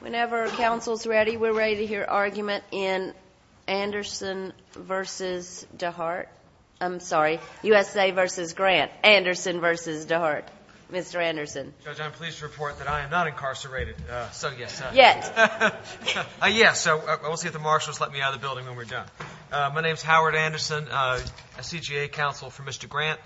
Whenever counsel's ready, we're ready to hear argument in Anderson v. DeHart. I'm sorry, USA v. Grant. Anderson v. DeHart. Mr. Anderson. Judge, I'm pleased to report that I am not incarcerated, so yes. Yet. Yes, so we'll see if the marshals let me out of the building when we're done. My name is Howard Anderson, a CGA counsel for Mr. Grant.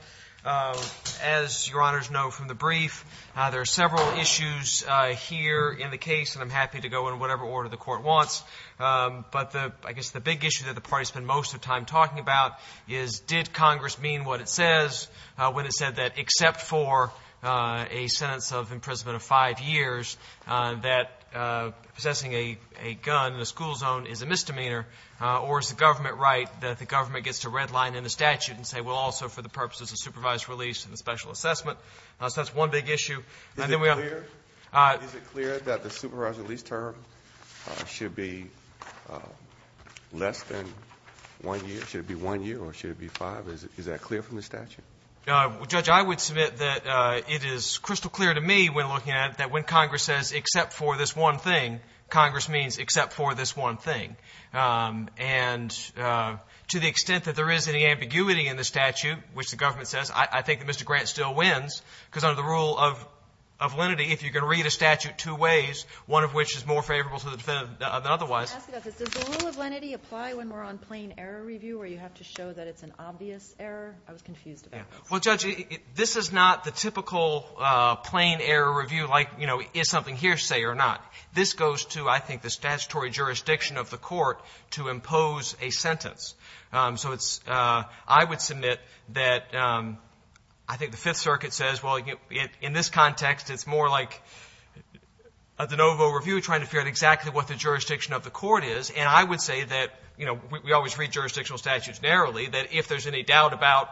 As Your Honors know from the brief, there are several issues here in the case, and I'm happy to go in whatever order the Court wants. But I guess the big issue that the parties spend most of their time talking about is, did Congress mean what it says when it said that except for a sentence of imprisonment of five years, that possessing a gun in a school zone is a misdemeanor, or is the government right that the government gets to redline in the statute and say, well, also for the purposes of supervised release and the special assessment? So that's one big issue. Is it clear that the supervised release term should be less than one year? Should it be one year or should it be five? Is that clear from the statute? Judge, I would submit that it is crystal clear to me when looking at it that when Congress says except for this one thing, then Congress means except for this one thing. And to the extent that there is any ambiguity in the statute, which the government says, I think that Mr. Grant still wins, because under the rule of lenity, if you can read a statute two ways, one of which is more favorable to the defendant than otherwise. Does the rule of lenity apply when we're on plain error review where you have to show that it's an obvious error? I was confused about that. Well, Judge, this is not the typical plain error review like, you know, is something hearsay or not. This goes to, I think, the statutory jurisdiction of the court to impose a sentence. So it's — I would submit that I think the Fifth Circuit says, well, in this context, it's more like a de novo review trying to figure out exactly what the jurisdiction of the court is. And I would say that, you know, we always read jurisdictional statutes narrowly, that if there's any doubt about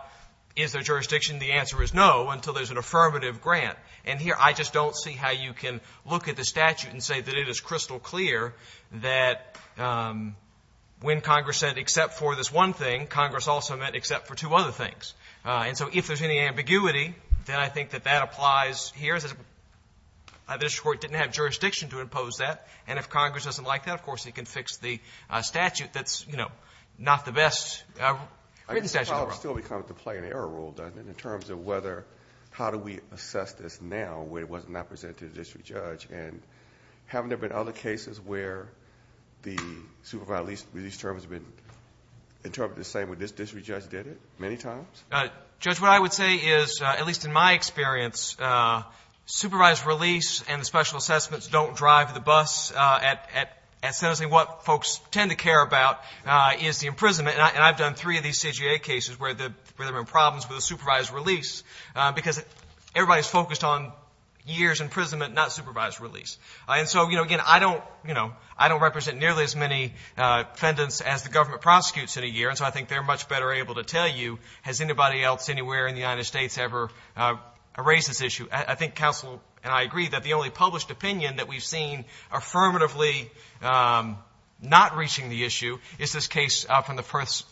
is there jurisdiction, the answer is no until there's an affirmative grant. And here, I just don't see how you can look at the statute and say that it is crystal clear that when Congress said except for this one thing, Congress also meant except for two other things. And so if there's any ambiguity, then I think that that applies here. This Court didn't have jurisdiction to impose that. And if Congress doesn't like that, of course, it can fix the statute that's, you know, not the best written statute. But it still becomes a plain error rule, doesn't it, in terms of whether how do we assess this now where it was not presented to the district judge? And haven't there been other cases where the supervised release terms have been interpreted the same way this district judge did it many times? Judge, what I would say is, at least in my experience, supervised release and special assessments don't drive the bus at sentencing. What folks tend to care about is the imprisonment. And I've done three of these CJA cases where there have been problems with the supervised release, because everybody's focused on years' imprisonment, not supervised release. And so, you know, again, I don't represent nearly as many defendants as the government prosecutes in a year, and so I think they're much better able to tell you, has anybody else anywhere in the United States ever raised this issue? I think counsel and I agree that the only published opinion that we've seen affirmatively not reaching the issue is this case from the First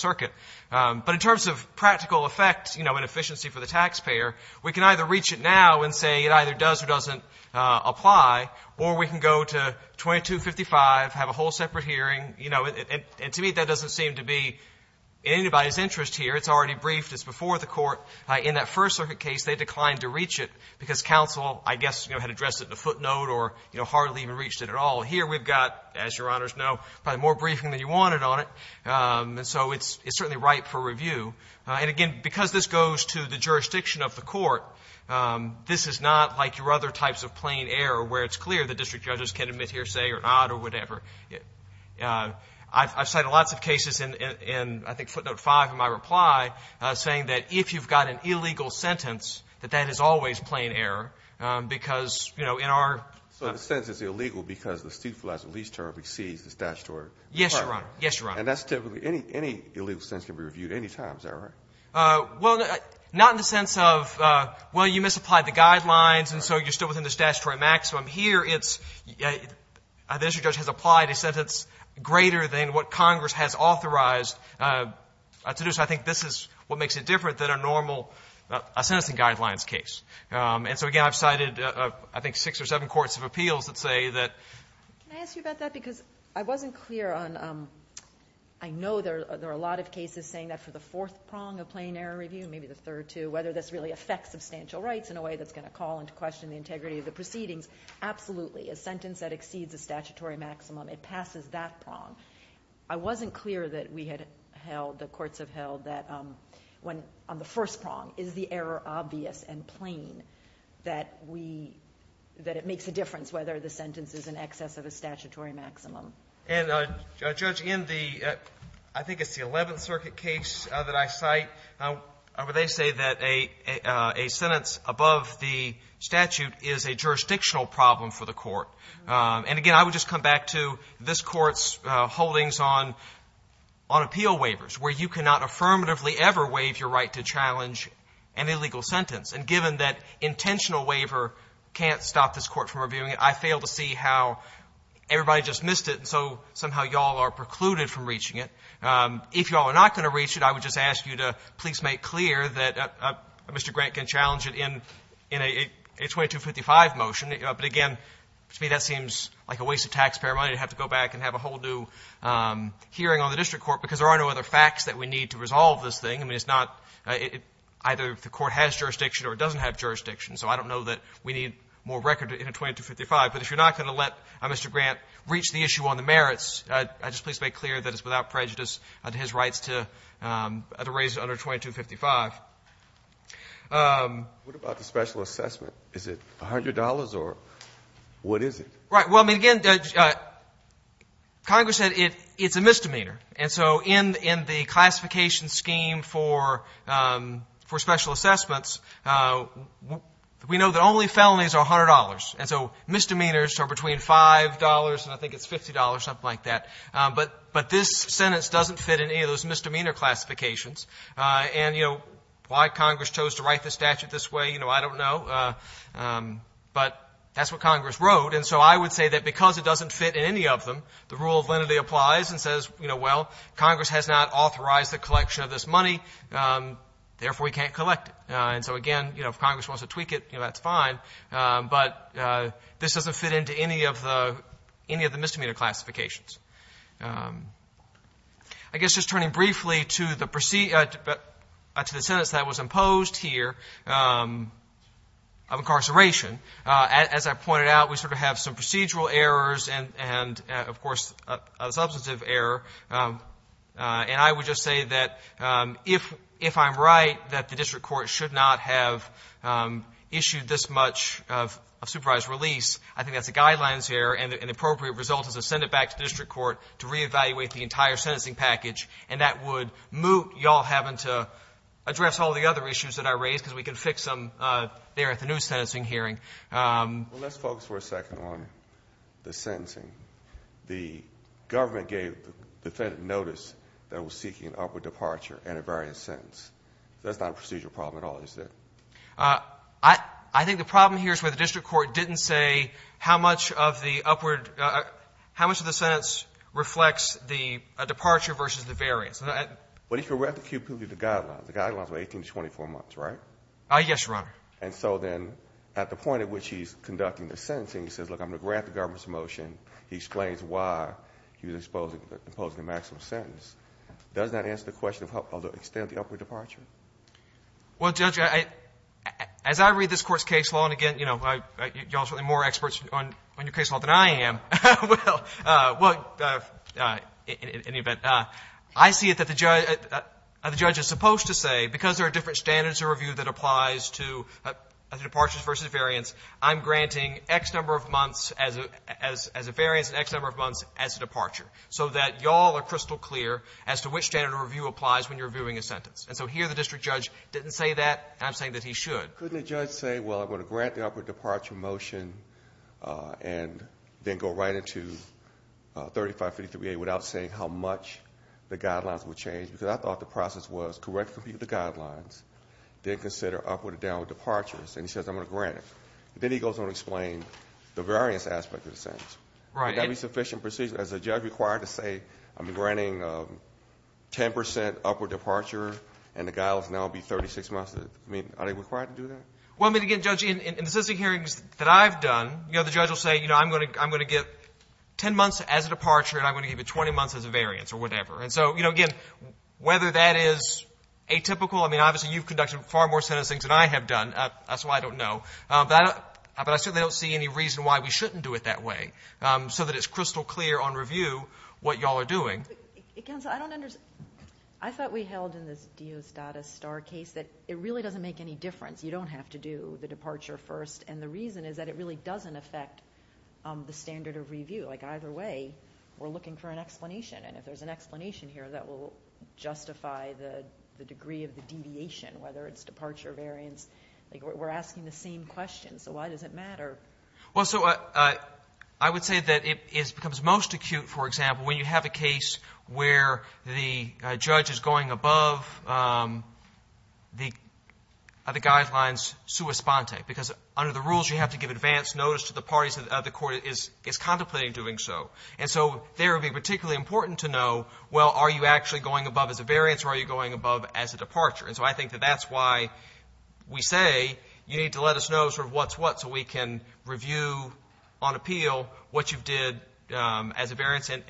Circuit. But in terms of practical effect, you know, and efficiency for the taxpayer, we can either reach it now and say it either does or doesn't apply, or we can go to 2255, have a whole separate hearing. You know, and to me, that doesn't seem to be in anybody's interest here. It's already briefed. It's before the Court. In that First Circuit case, they declined to reach it because counsel, I guess, you know, didn't want it at all. Here we've got, as Your Honors know, probably more briefing than you wanted on it, and so it's certainly ripe for review. And again, because this goes to the jurisdiction of the Court, this is not like your other types of plain error where it's clear the district judges can admit hearsay or not or whatever. I've cited lots of cases in, I think, footnote 5 of my reply, saying that if you've got an illegal sentence, that that is always plain error, because, you know, in our case, it's not. So the sentence is illegal because the stupefied release term exceeds the statutory requirement. Yes, Your Honor. Yes, Your Honor. And that's typically any illegal sentence can be reviewed any time, is that right? Well, not in the sense of, well, you misapplied the guidelines, and so you're still within the statutory maximum. Here it's the district judge has applied a sentence greater than what Congress has authorized to do, so I think this is what makes it different than a normal sentencing guidelines case. And so, again, I've cited, I think, six or seven courts of appeals that say that Can I ask you about that? Because I wasn't clear on, I know there are a lot of cases saying that for the fourth prong of plain error review, maybe the third, too, whether this really affects substantial rights in a way that's going to call into question the integrity of the proceedings, absolutely. A sentence that exceeds the statutory maximum, it passes that prong. I wasn't clear that we had held, the courts have held, that when on the first prong, is the error obvious and plain that we, that it makes a difference whether the sentence is in excess of a statutory maximum. And, Judge, in the, I think it's the Eleventh Circuit case that I cite, they say that a sentence above the statute is a jurisdictional problem for the court. And, again, I would just come back to this Court's holdings on appeal waivers, where you cannot affirmatively ever waive your right to challenge an illegal sentence. And given that intentional waiver can't stop this Court from reviewing it, I fail to see how everybody just missed it, and so somehow you all are precluded from reaching it. If you all are not going to reach it, I would just ask you to please make clear that Mr. Grant can challenge it in a 2255 motion. But, again, to me that seems like a waste of taxpayer money to have to go back and Because there are no other facts that we need to resolve this thing. I mean, it's not, either the Court has jurisdiction or it doesn't have jurisdiction. So I don't know that we need more record in a 2255. But if you're not going to let Mr. Grant reach the issue on the merits, I'd just please make clear that it's without prejudice to his rights to raise it under 2255. What about the special assessment? Is it $100 or what is it? Right. Well, I mean, again, Judge, Congress said it's a misdemeanor. And so in the classification scheme for special assessments, we know that only felonies are $100. And so misdemeanors are between $5 and I think it's $50, something like that. But this sentence doesn't fit in any of those misdemeanor classifications. And, you know, why Congress chose to write the statute this way, you know, I don't know. But that's what Congress wrote. And so I would say that because it doesn't fit in any of them, the rule of lenity applies and says, you know, well, Congress has not authorized the collection of this money, therefore we can't collect it. And so, again, you know, if Congress wants to tweak it, you know, that's fine. But this doesn't fit into any of the misdemeanor classifications. I guess just turning briefly to the sentence that was imposed here of incarceration, as I pointed out, we sort of have some procedural errors and, of course, a substantive error. And I would just say that if I'm right that the district court should not have issued this much of supervised release, I think that's a guidelines error and an appropriate result is to send it back to the district court to reevaluate the entire sentencing package. And that would moot you all having to address all the other issues that I raised because we can fix them there at the new sentencing hearing. Well, let's focus for a second on the sentencing. The government gave the defendant notice that it was seeking an upward departure and a variance sentence. That's not a procedural problem at all, is it? I think the problem here is where the district court didn't say how much of the upward — how much of the sentence reflects the departure versus the variance. But if you read the guidelines, the guidelines were 18 to 24 months, right? Yes, Your Honor. And so then at the point at which he's conducting the sentencing, he says, look, I'm going to grant the government's motion. He explains why he was imposing the maximum sentence. Does that answer the question of the extent of the upward departure? Well, Judge, as I read this Court's case law, and again, you know, you all are certainly more experts on your case law than I am. Well, in any event, I see it that the judge is supposed to say, because there are different standards of review that applies to departures versus variance, I'm granting X number of months as a variance and X number of months as a departure, so that you all are crystal clear as to which standard of review applies when you're reviewing a sentence. And so here the district judge didn't say that, and I'm saying that he should. Couldn't a judge say, well, I'm going to grant the upward departure motion and then go right into 3553A without saying how much the guidelines would change? Because I thought the process was correct, compute the guidelines, then consider upward and downward departures. And he says, I'm going to grant it. Then he goes on to explain the variance aspect of the sentence. Right. Would that be sufficient precision? Is the judge required to say, I'm granting 10% upward departure, and the guidelines now would be 36 months? I mean, are they required to do that? Well, I mean, again, Judge, in the sentencing hearings that I've done, you know, the judge will say, you know, I'm going to get 10 months as a departure, and I'm going to give you 20 months as a variance or whatever. And so, you know, again, whether that is atypical, I mean, obviously, you've conducted far more sentencing than I have done. That's why I don't know. But I certainly don't see any reason why we shouldn't do it that way so that it's crystal clear on review what you all are doing. Counsel, I don't understand. I thought we held in this Diosdado Star case that it really doesn't make any difference. You don't have to do the departure first. And the reason is that it really doesn't affect the standard of review. Like, either way, we're looking for an explanation. And if there's an explanation here, that will justify the degree of the deviation, whether it's departure, variance. Like, we're asking the same question. So why does it matter? Well, so I would say that it becomes most acute, for example, when you have a case where the judge is going above the guidelines sua sponte, because under the rules you have to give advance notice to the parties of the court that is contemplating doing so. And so there it would be particularly important to know, well, are you actually going above as a variance or are you going above as a departure? And so I think that that's why we say you need to let us know sort of what's what so we can review on appeal what you did as a variance and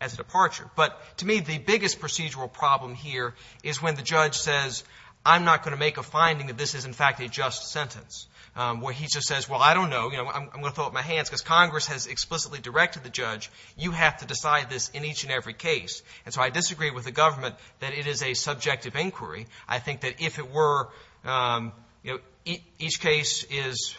as a departure. But to me, the biggest procedural problem here is when the judge says, I'm not going to make a finding that this is, in fact, a just sentence, where he just says, well, I don't know, I'm going to throw up my hands, because Congress has explicitly directed the judge, you have to decide this in each and every case. And so I disagree with the government that it is a subjective inquiry. I think that if it were, you know, each case is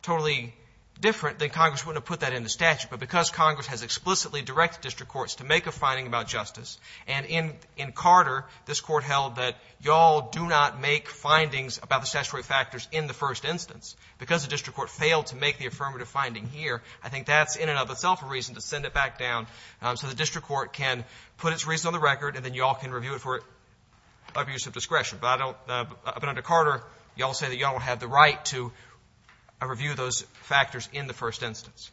totally different, then Congress wouldn't have put that in the statute. But because Congress has explicitly directed district courts to make a finding about justice, and in Carter this Court held that you all do not make findings about the statutory factors in the first instance, because the district court failed to make the affirmative finding here, I think that's in and of itself a reason to send it back down so the district court can put its reason on the record and then you all can review it for abuse of discretion. But I don't — but under Carter, you all say that you all have the right to review those factors in the first instance.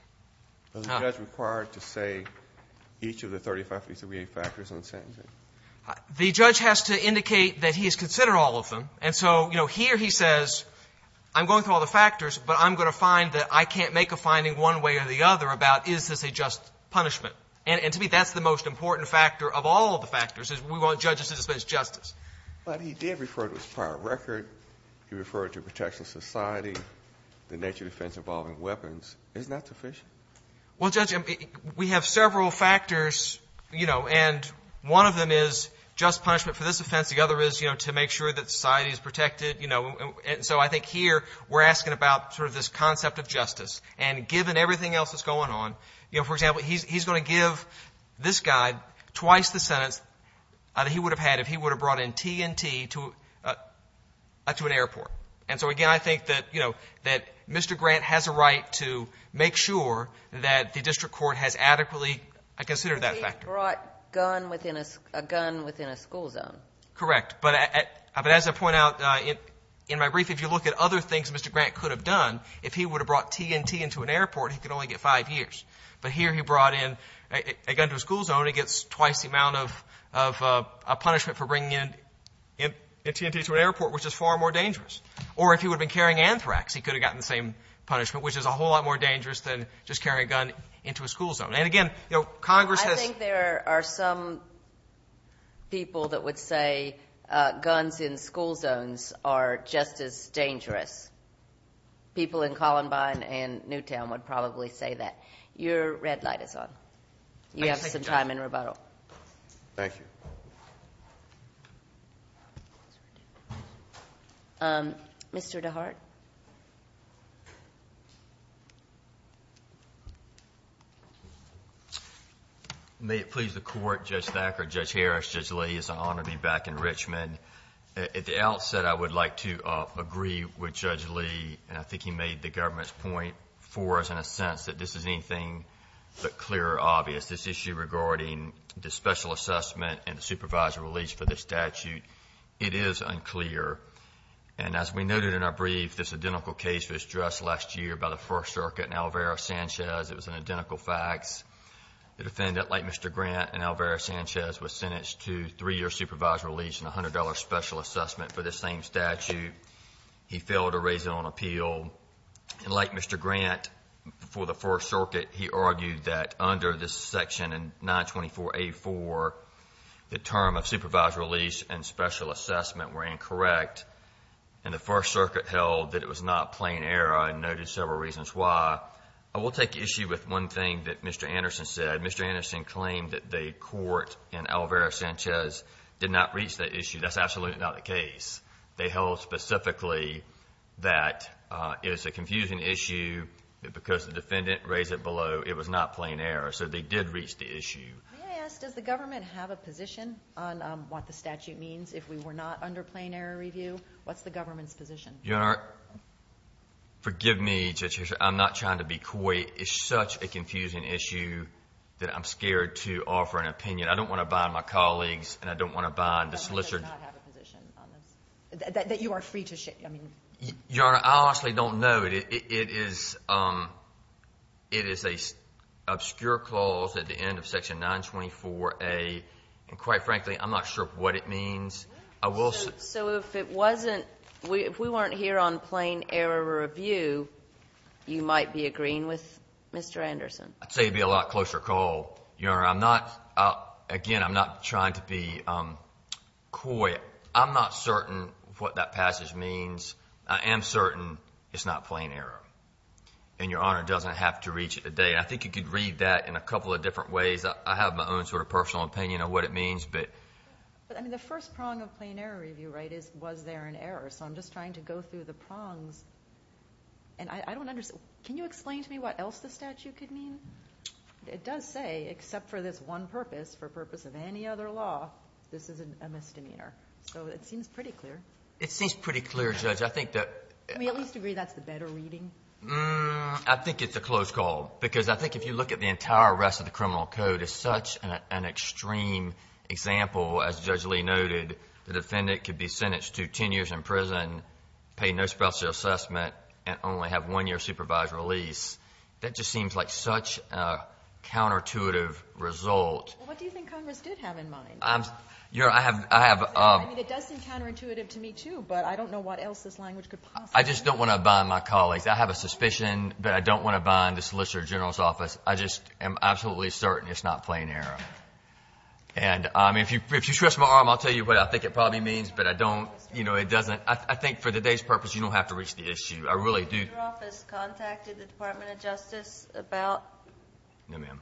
Now — Kennedy. Is the judge required to say each of the 35, 338 factors in the sentencing? Waxman. The judge has to indicate that he has considered all of them. And so, you know, here he says, I'm going through all the factors, but I'm going to find that I can't make a finding one way or the other about is this a just punishment. And to me, that's the most important factor of all of the factors is we want judges to dismiss justice. But he did refer to his prior record. He referred to protection of society, the nature of defense involving weapons. Isn't that sufficient? Well, Judge, we have several factors, you know, and one of them is just punishment for this offense. The other is, you know, to make sure that society is protected, you know. And so I think here we're asking about sort of this concept of justice. And given everything else that's going on, you know, for example, he's going to give this guy twice the sentence that he would have had if he would have brought in T&T to an airport. And so, again, I think that, you know, that Mr. Grant has a right to make sure that the district court has adequately considered that factor. But he brought a gun within a school zone. Correct. But as I point out in my brief, if you look at other things Mr. Grant could have done, if he would have brought T&T into an airport, he could only get five years. But here he brought in a gun to a school zone, he gets twice the amount of punishment for bringing in T&T to an airport, which is far more dangerous. Or if he would have been carrying anthrax, he could have gotten the same punishment, which is a whole lot more dangerous than just carrying a gun into a school zone. And, again, you know, Congress has ---- I think there are some people that would say guns in school zones are just as dangerous. People in Columbine and Newtown would probably say that. Your red light is on. You have some time in rebuttal. Thank you. Mr. DeHart? May it please the Court, Judge Thacker, Judge Harris, Judge Leahy, it's an honor to be back in Richmond. And at the outset I would like to agree with Judge Lee, and I think he made the government's point for us in a sense, that this is anything but clear or obvious. This issue regarding the special assessment and the supervisory release for this statute, it is unclear. And as we noted in our brief, this identical case was addressed last year by the First Circuit and Alvaro Sanchez. It was an identical fax. The defendant, like Mr. Grant and Alvaro Sanchez, was sentenced to three years supervisory release and $100 special assessment for this same statute. He failed to raise it on appeal. And like Mr. Grant, for the First Circuit, he argued that under this section in 924A4, the term of supervisory release and special assessment were incorrect. And the First Circuit held that it was not plain error and noted several reasons why. I will take issue with one thing that Mr. Anderson said. Mr. Anderson claimed that the court in Alvaro Sanchez did not reach that issue. That's absolutely not the case. They held specifically that it was a confusing issue because the defendant raised it below. It was not plain error, so they did reach the issue. May I ask, does the government have a position on what the statute means if we were not under plain error review? What's the government's position? Your Honor, forgive me. I'm not trying to be coy. It's such a confusing issue that I'm scared to offer an opinion. I don't want to bind my colleagues, and I don't want to bind the solicitor. The government does not have a position on this, that you are free to share. Your Honor, I honestly don't know. It is an obscure clause at the end of section 924A. So if it wasn't, if we weren't here on plain error review, you might be agreeing with Mr. Anderson? I'd say it would be a lot closer call, Your Honor. I'm not, again, I'm not trying to be coy. I'm not certain what that passage means. I am certain it's not plain error, and Your Honor doesn't have to reach it today. I think you could read that in a couple of different ways. I have my own sort of personal opinion on what it means, but. But, I mean, the first prong of plain error review, right, is was there an error? So I'm just trying to go through the prongs, and I don't understand. Can you explain to me what else the statute could mean? It does say, except for this one purpose, for purpose of any other law, this is a misdemeanor. So it seems pretty clear. It seems pretty clear, Judge. I think that. I mean, at least agree that's the better reading. I think it's a close call because I think if you look at the entire rest of the criminal code, it is such an extreme example, as Judge Lee noted. The defendant could be sentenced to 10 years in prison, pay no special assessment, and only have one year of supervised release. That just seems like such a counterintuitive result. Well, what do you think Congress did have in mind? Your Honor, I have. I mean, it does seem counterintuitive to me, too, but I don't know what else this language could possibly mean. I just don't want to bind my colleagues. I have a suspicion, but I don't want to bind the Solicitor General's office. I just am absolutely certain it's not plain error. And if you stretch my arm, I'll tell you what I think it probably means, but I don't, you know, it doesn't. I think for today's purpose, you don't have to reach the issue. I really do. Has your office contacted the Department of Justice about this case? No, ma'am.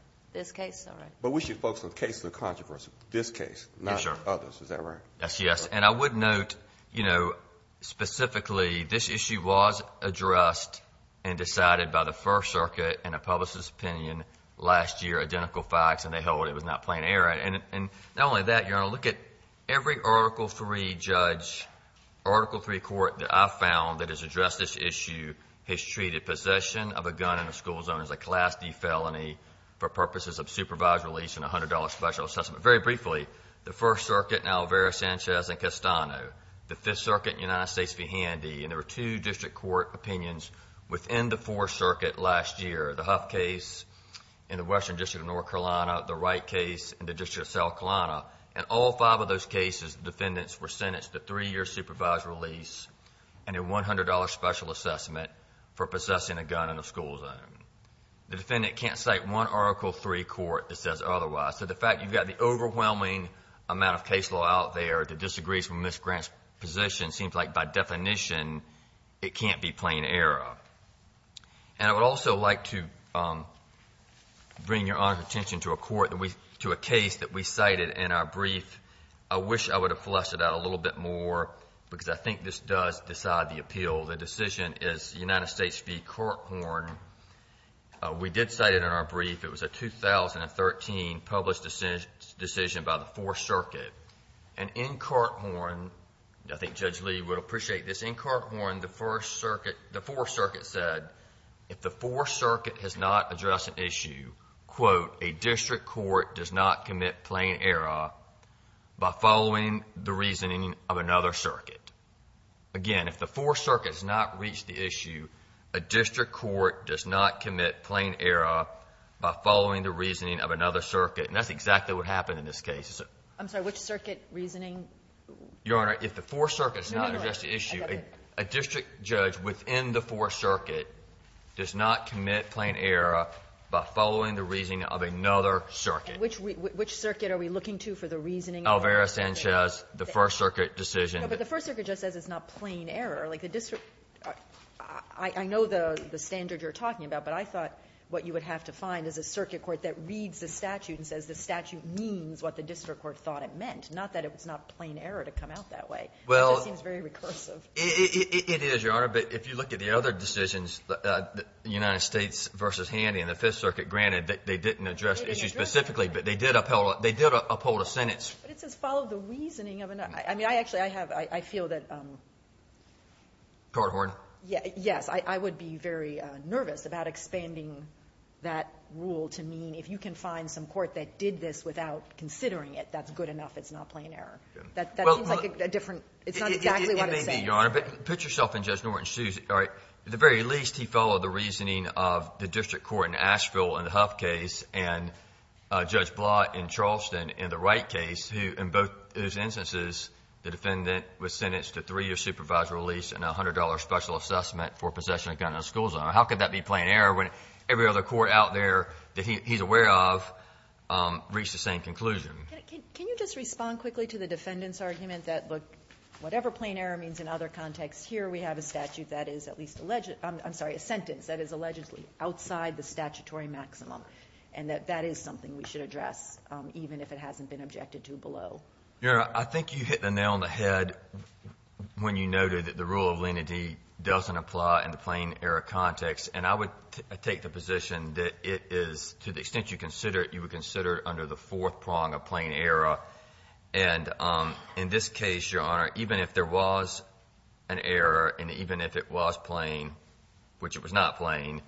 All right. But we should focus on cases of controversy, this case, not others. Is that right? Yes, yes. And I would note, you know, specifically, this issue was addressed and decided by the First Circuit in a publicist's opinion last year, identical facts, and they held it was not plain error. And not only that, Your Honor, look at every Article III judge, Article III court that I've found that has addressed this issue has treated possession of a gun in a school zone as a Class D felony for purposes of supervised release and $100 special assessment. Very briefly, the First Circuit in Alvarez, Sanchez, and Castano, the Fifth Circuit in the United States v. Handy, and there were two district court opinions within the Fourth Circuit last year, the Huff case in the Western District of North Carolina, the Wright case in the District of South Carolina. In all five of those cases, the defendants were sentenced to three years' supervised release and a $100 special assessment for possessing a gun in a school zone. The defendant can't cite one Article III court that says otherwise. So the fact you've got the overwhelming amount of case law out there that disagrees with Ms. Grant's position seems like by definition it can't be plain error. And I would also like to bring Your Honor's attention to a court that we – to a case that we cited in our brief. I wish I would have flustered out a little bit more because I think this does decide the appeal. The decision is United States v. Corkhorn. We did cite it in our brief. It was a 2013 published decision by the Fourth Circuit. And in Corkhorn, I think Judge Lee would appreciate this, in Corkhorn the First Circuit – the Fourth Circuit said if the Fourth Circuit has not addressed an issue, quote, a district court does not commit plain error by following the reasoning of another circuit. Again, if the Fourth Circuit has not reached the issue, a district court does not commit plain error by following the reasoning of another circuit. And that's exactly what happened in this case. I'm sorry, which circuit reasoning? Your Honor, if the Fourth Circuit has not addressed the issue, a district judge within the Fourth Circuit does not commit plain error by following the reasoning of another circuit. And which – which circuit are we looking to for the reasoning of another circuit? Alvarez-Sanchez, the First Circuit decision. No, but the First Circuit just says it's not plain error. Like the district – I know the standard you're talking about, but I thought what you would have to find is a circuit court that reads the statute and says the district court thought it meant. Not that it's not plain error to come out that way. It just seems very recursive. Well, it is, Your Honor. But if you look at the other decisions, the United States v. Handy and the Fifth Circuit, granted that they didn't address issues specifically, but they did uphold a sentence. But it says follow the reasoning of another. I mean, I actually have – I feel that – Corkhorn? Yes. I would be very nervous about expanding that rule to mean if you can find some court that did this without considering it, that's good enough. It's not plain error. That seems like a different – it's not exactly what it's saying. It may be, Your Honor. But put yourself in Judge Norton's shoes. All right. At the very least, he followed the reasoning of the district court in Asheville in the Huff case and Judge Blatt in Charleston in the Wright case, who in both those instances, the defendant was sentenced to three years supervised release and a $100 special assessment for possession of a gun in a school zone. How could that be plain error when every other court out there that he's aware of reached the same conclusion? Can you just respond quickly to the defendant's argument that, look, whatever plain error means in other contexts, here we have a statute that is at least alleged – I'm sorry, a sentence that is allegedly outside the statutory maximum and that that is something we should address, even if it hasn't been objected to below. Your Honor, I think you hit the nail on the head when you noted that the rule of lenity doesn't apply in the plain error context. And I would take the position that it is, to the extent you consider it, you would consider it under the fourth prong of plain error. And in this case, Your Honor, even if there was an error and even if it was plain, which it was not plain,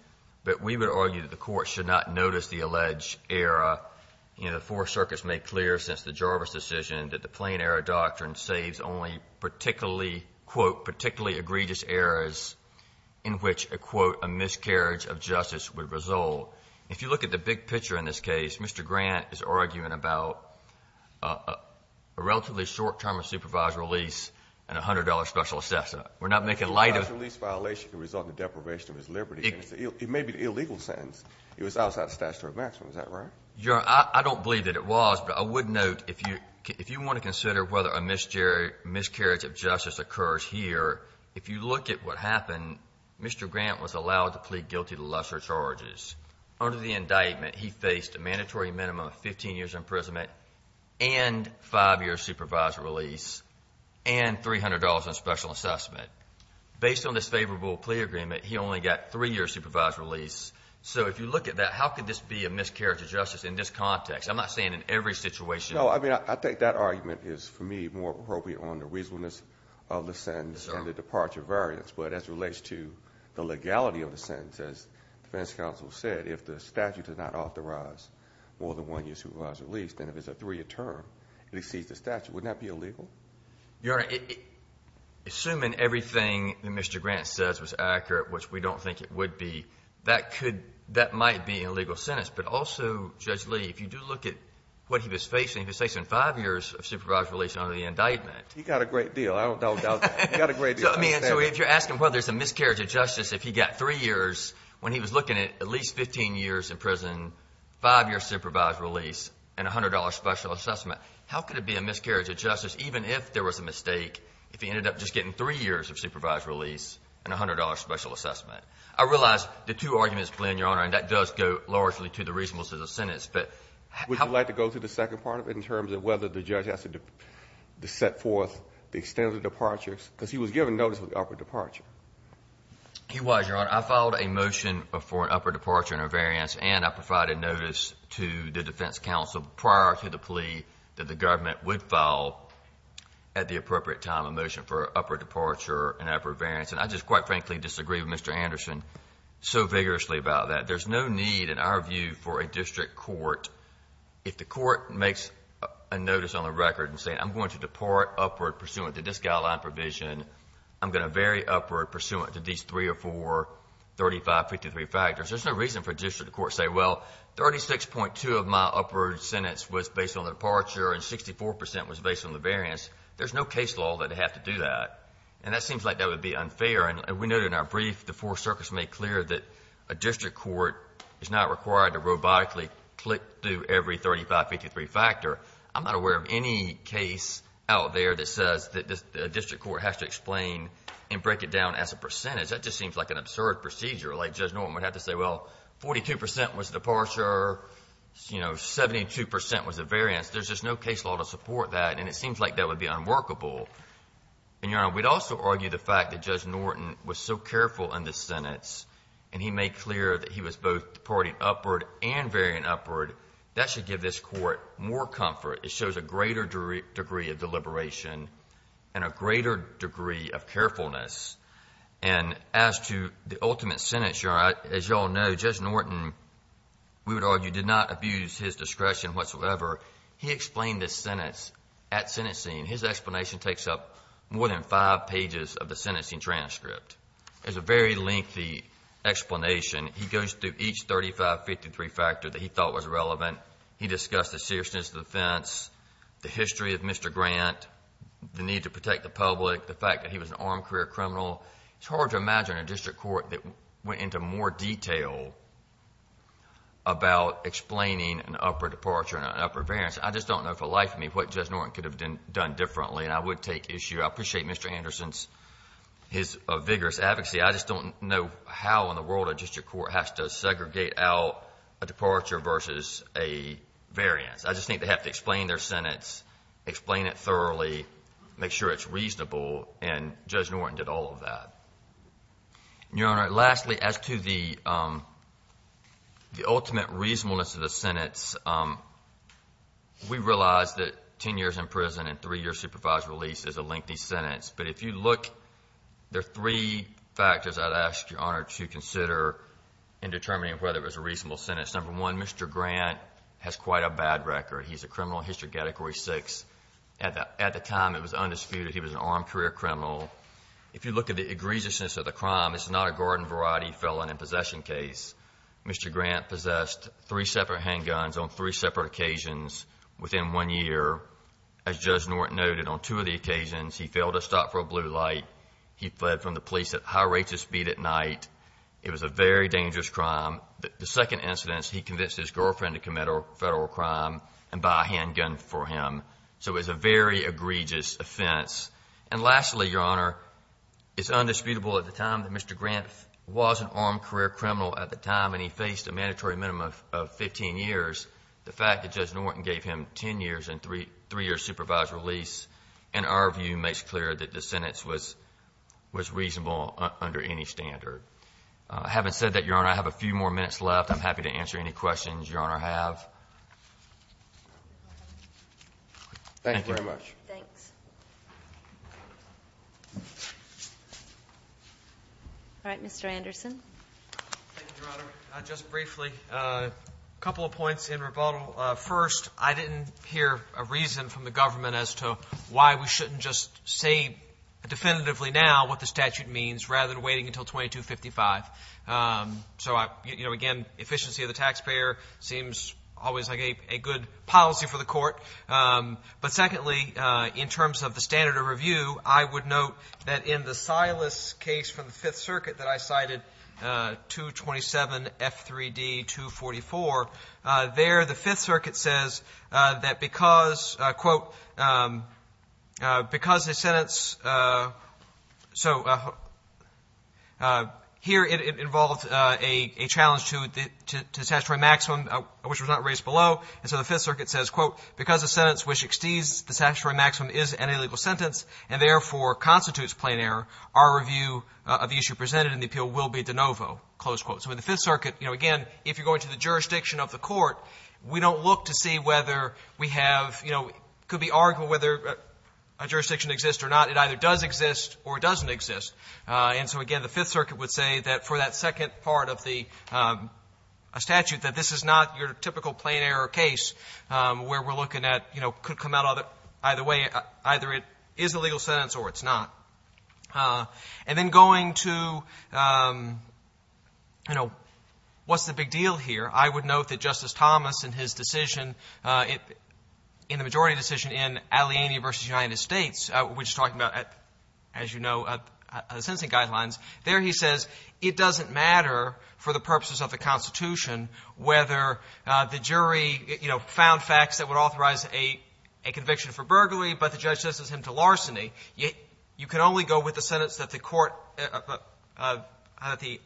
but we would argue that the Court should not notice the alleged error. You know, the Four Circuits made clear since the Jarvis decision that the plain error is one of the egregious errors in which, quote, a miscarriage of justice would result. If you look at the big picture in this case, Mr. Grant is arguing about a relatively short term of supervised release and a $100 special assessment. We're not making light of the law. The supervised release violation can result in deprivation of his liberty. It may be an illegal sentence. It was outside the statutory maximum. Is that right? Your Honor, I don't believe that it was. But I would note, if you want to consider whether a miscarriage of justice occurs here, if you look at what happened, Mr. Grant was allowed to plead guilty to lesser charges. Under the indictment, he faced a mandatory minimum of 15 years' imprisonment and 5 years' supervised release and $300 on special assessment. Based on this favorable plea agreement, he only got 3 years' supervised release. So if you look at that, how could this be a miscarriage of justice in this context? I'm not saying in every situation. No, I mean, I think that argument is, for me, more appropriate on the reasonableness of the sentence and the departure variance. But as it relates to the legality of the sentence, as defense counsel said, if the statute does not authorize more than 1 year's supervised release, then if it's a 3-year term, it exceeds the statute. Wouldn't that be illegal? Your Honor, assuming everything that Mr. Grant says was accurate, which we don't think it would be, that might be an illegal sentence. But also, Judge Lee, if you do look at what he was facing, he was facing 5 years' supervised release under the indictment. He got a great deal. I don't doubt that. He got a great deal. So, I mean, if you're asking whether it's a miscarriage of justice if he got 3 years' when he was looking at at least 15 years' imprisonment, 5 years' supervised release, and $100 special assessment, how could it be a miscarriage of justice even if there was a mistake if he ended up just getting 3 years' of supervised release and $100 special assessment? I realize the two arguments, Glenn, Your Honor, and that does go largely to the reasonableness of the sentence, but how would you like to go through the second part of it in terms of whether the judge has to set forth the extent of the departures? Because he was given notice of the upper departure. He was, Your Honor. I filed a motion for an upper departure and a variance, and I provided notice to the defense counsel prior to the plea that the government would file at the appropriate time a motion for an upper departure and an upper variance. And I just quite frankly disagree with Mr. Anderson so vigorously about that. There's no need, in our view, for a district court, if the court makes a notice on the record saying I'm going to depart upward pursuant to this guideline provision, I'm going to vary upward pursuant to these 3 or 4, 35, 53 factors. There's no reason for a district court to say, well, 36.2 of my upward sentence was based on the departure and 64 percent was based on the variance. There's no case law that would have to do that. And that seems like that would be unfair. And we noted in our brief the four circuits made clear that a district court is not required to robotically click through every 35, 53 factor. I'm not aware of any case out there that says that a district court has to explain and break it down as a percentage. That just seems like an absurd procedure. Like Judge Norton would have to say, well, 42 percent was the departure, 72 percent was the variance. There's just no case law to support that, and it seems like that would be unworkable. And, Your Honor, we'd also argue the fact that Judge Norton was so careful in this sentence and he made clear that he was both departing upward and varying upward. That should give this court more comfort. It shows a greater degree of deliberation and a greater degree of carefulness. And as to the ultimate sentence, Your Honor, as you all know, Judge Norton, we would argue, did not abuse his discretion whatsoever. He explained this sentence at sentencing. His explanation takes up more than five pages of the sentencing transcript. It's a very lengthy explanation. He goes through each 35, 53 factor that he thought was relevant. He discussed the seriousness of the offense, the history of Mr. Grant, the need to protect the public, the fact that he was an armed career criminal. It's hard to imagine a district court that went into more detail about explaining an upward departure and an upward variance. I just don't know for the life of me what Judge Norton could have done differently and I would take issue. I appreciate Mr. Anderson's vigorous advocacy. I just don't know how in the world a district court has to segregate out a departure versus a variance. I just think they have to explain their sentence, explain it thoroughly, make sure it's reasonable, and Judge Norton did all of that. Your Honor, lastly, as to the ultimate reasonableness of the sentence, we realize that 10 years in prison and three years supervised release is a lengthy sentence. But if you look, there are three factors I'd ask Your Honor to consider in determining whether it was a reasonable sentence. Number one, Mr. Grant has quite a bad record. He's a criminal in History Category 6. At the time, it was undisputed he was an armed career criminal. If you look at the egregiousness of the crime, it's not a garden variety felon in possession case. Mr. Grant possessed three separate handguns on three separate occasions within one year. As Judge Norton noted, on two of the occasions, he failed to stop for a blue light. He fled from the police at high rates of speed at night. It was a very dangerous crime. The second incidence, he convinced his girlfriend to commit a federal crime and buy a handgun for him. So it was a very egregious offense. And lastly, Your Honor, it's undisputable at the time that Mr. Grant was an armed career criminal at the time and he faced a mandatory minimum of 15 years. The fact that Judge Norton gave him 10 years and three years supervised release in our view makes clear that the sentence was reasonable under any standard. Having said that, Your Honor, I have a few more minutes left. I'm happy to answer any questions Your Honor have. Thank you very much. Thanks. All right, Mr. Anderson. Thank you, Your Honor. Just briefly, a couple of points in rebuttal. First, I didn't hear a reason from the government as to why we shouldn't just say definitively now what the statute means rather than waiting until 2255. So, you know, again, efficiency of the taxpayer seems always like a good policy for the court. But secondly, in terms of the standard of review, I would note that in the Silas case from the Fifth Circuit that I cited, 227F3D244, there the Fifth Circuit says that because, quote, because the sentence, so here it involves a challenge to the statutory maximum, which was not raised below. And so the Fifth Circuit says, quote, because the sentence which exceeds the statutory maximum is an illegal sentence and therefore constitutes plain error, our review of the issue presented in the appeal will be de novo, close quote. So in the Fifth Circuit, you know, again, if you're going to the jurisdiction of the court, we don't look to see whether we have, you know, it could be argued whether a jurisdiction exists or not. It either does exist or doesn't exist. And so, again, the Fifth Circuit would say that for that second part of the statute that this is not your typical plain error case where we're looking at, you know, could come out either way, either it is a legal sentence or it's not. And then going to, you know, what's the big deal here, I would note that Justice Thomas in his decision, in the majority decision in Aliani v. United States, which is talking about, as you know, sentencing guidelines, there he says, it doesn't matter for the purposes of the Constitution whether the jury, you know, found facts that would authorize a conviction for burglary, but the judge sentences him to larceny. You can only go with the sentence that the court, that the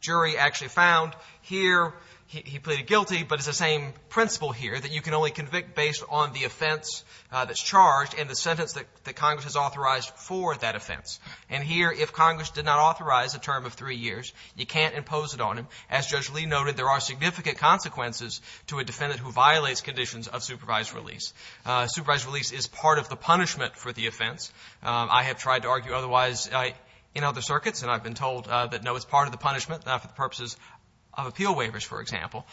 jury actually found. Here, he pleaded guilty, but it's the same principle here, that you can only convict based on the offense that's charged and the sentence that Congress has authorized for that offense. And here, if Congress did not authorize a term of three years, you can't impose it on him. As Judge Lee noted, there are significant consequences to a defendant who violates conditions of supervised release. Supervised release is part of the punishment for the offense. It's part of the punishment, not for the purposes of appeal waivers, for example.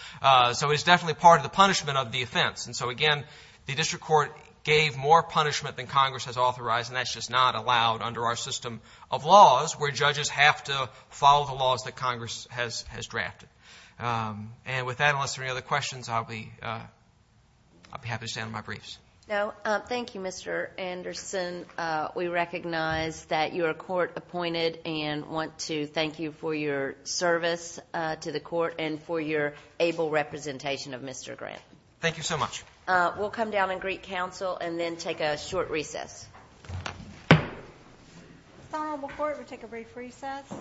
So it's definitely part of the punishment of the offense. And so, again, the district court gave more punishment than Congress has authorized, and that's just not allowed under our system of laws, where judges have to follow the laws that Congress has drafted. And with that, unless there are any other questions, I'll be happy to stand on my briefs. Thank you, Mr. Anderson. Mr. Anderson, we recognize that you are court appointed and want to thank you for your service to the court and for your able representation of Mr. Grant. Thank you so much. We'll come down and greet counsel and then take a short recess. If it's not on before, we'll take a brief recess.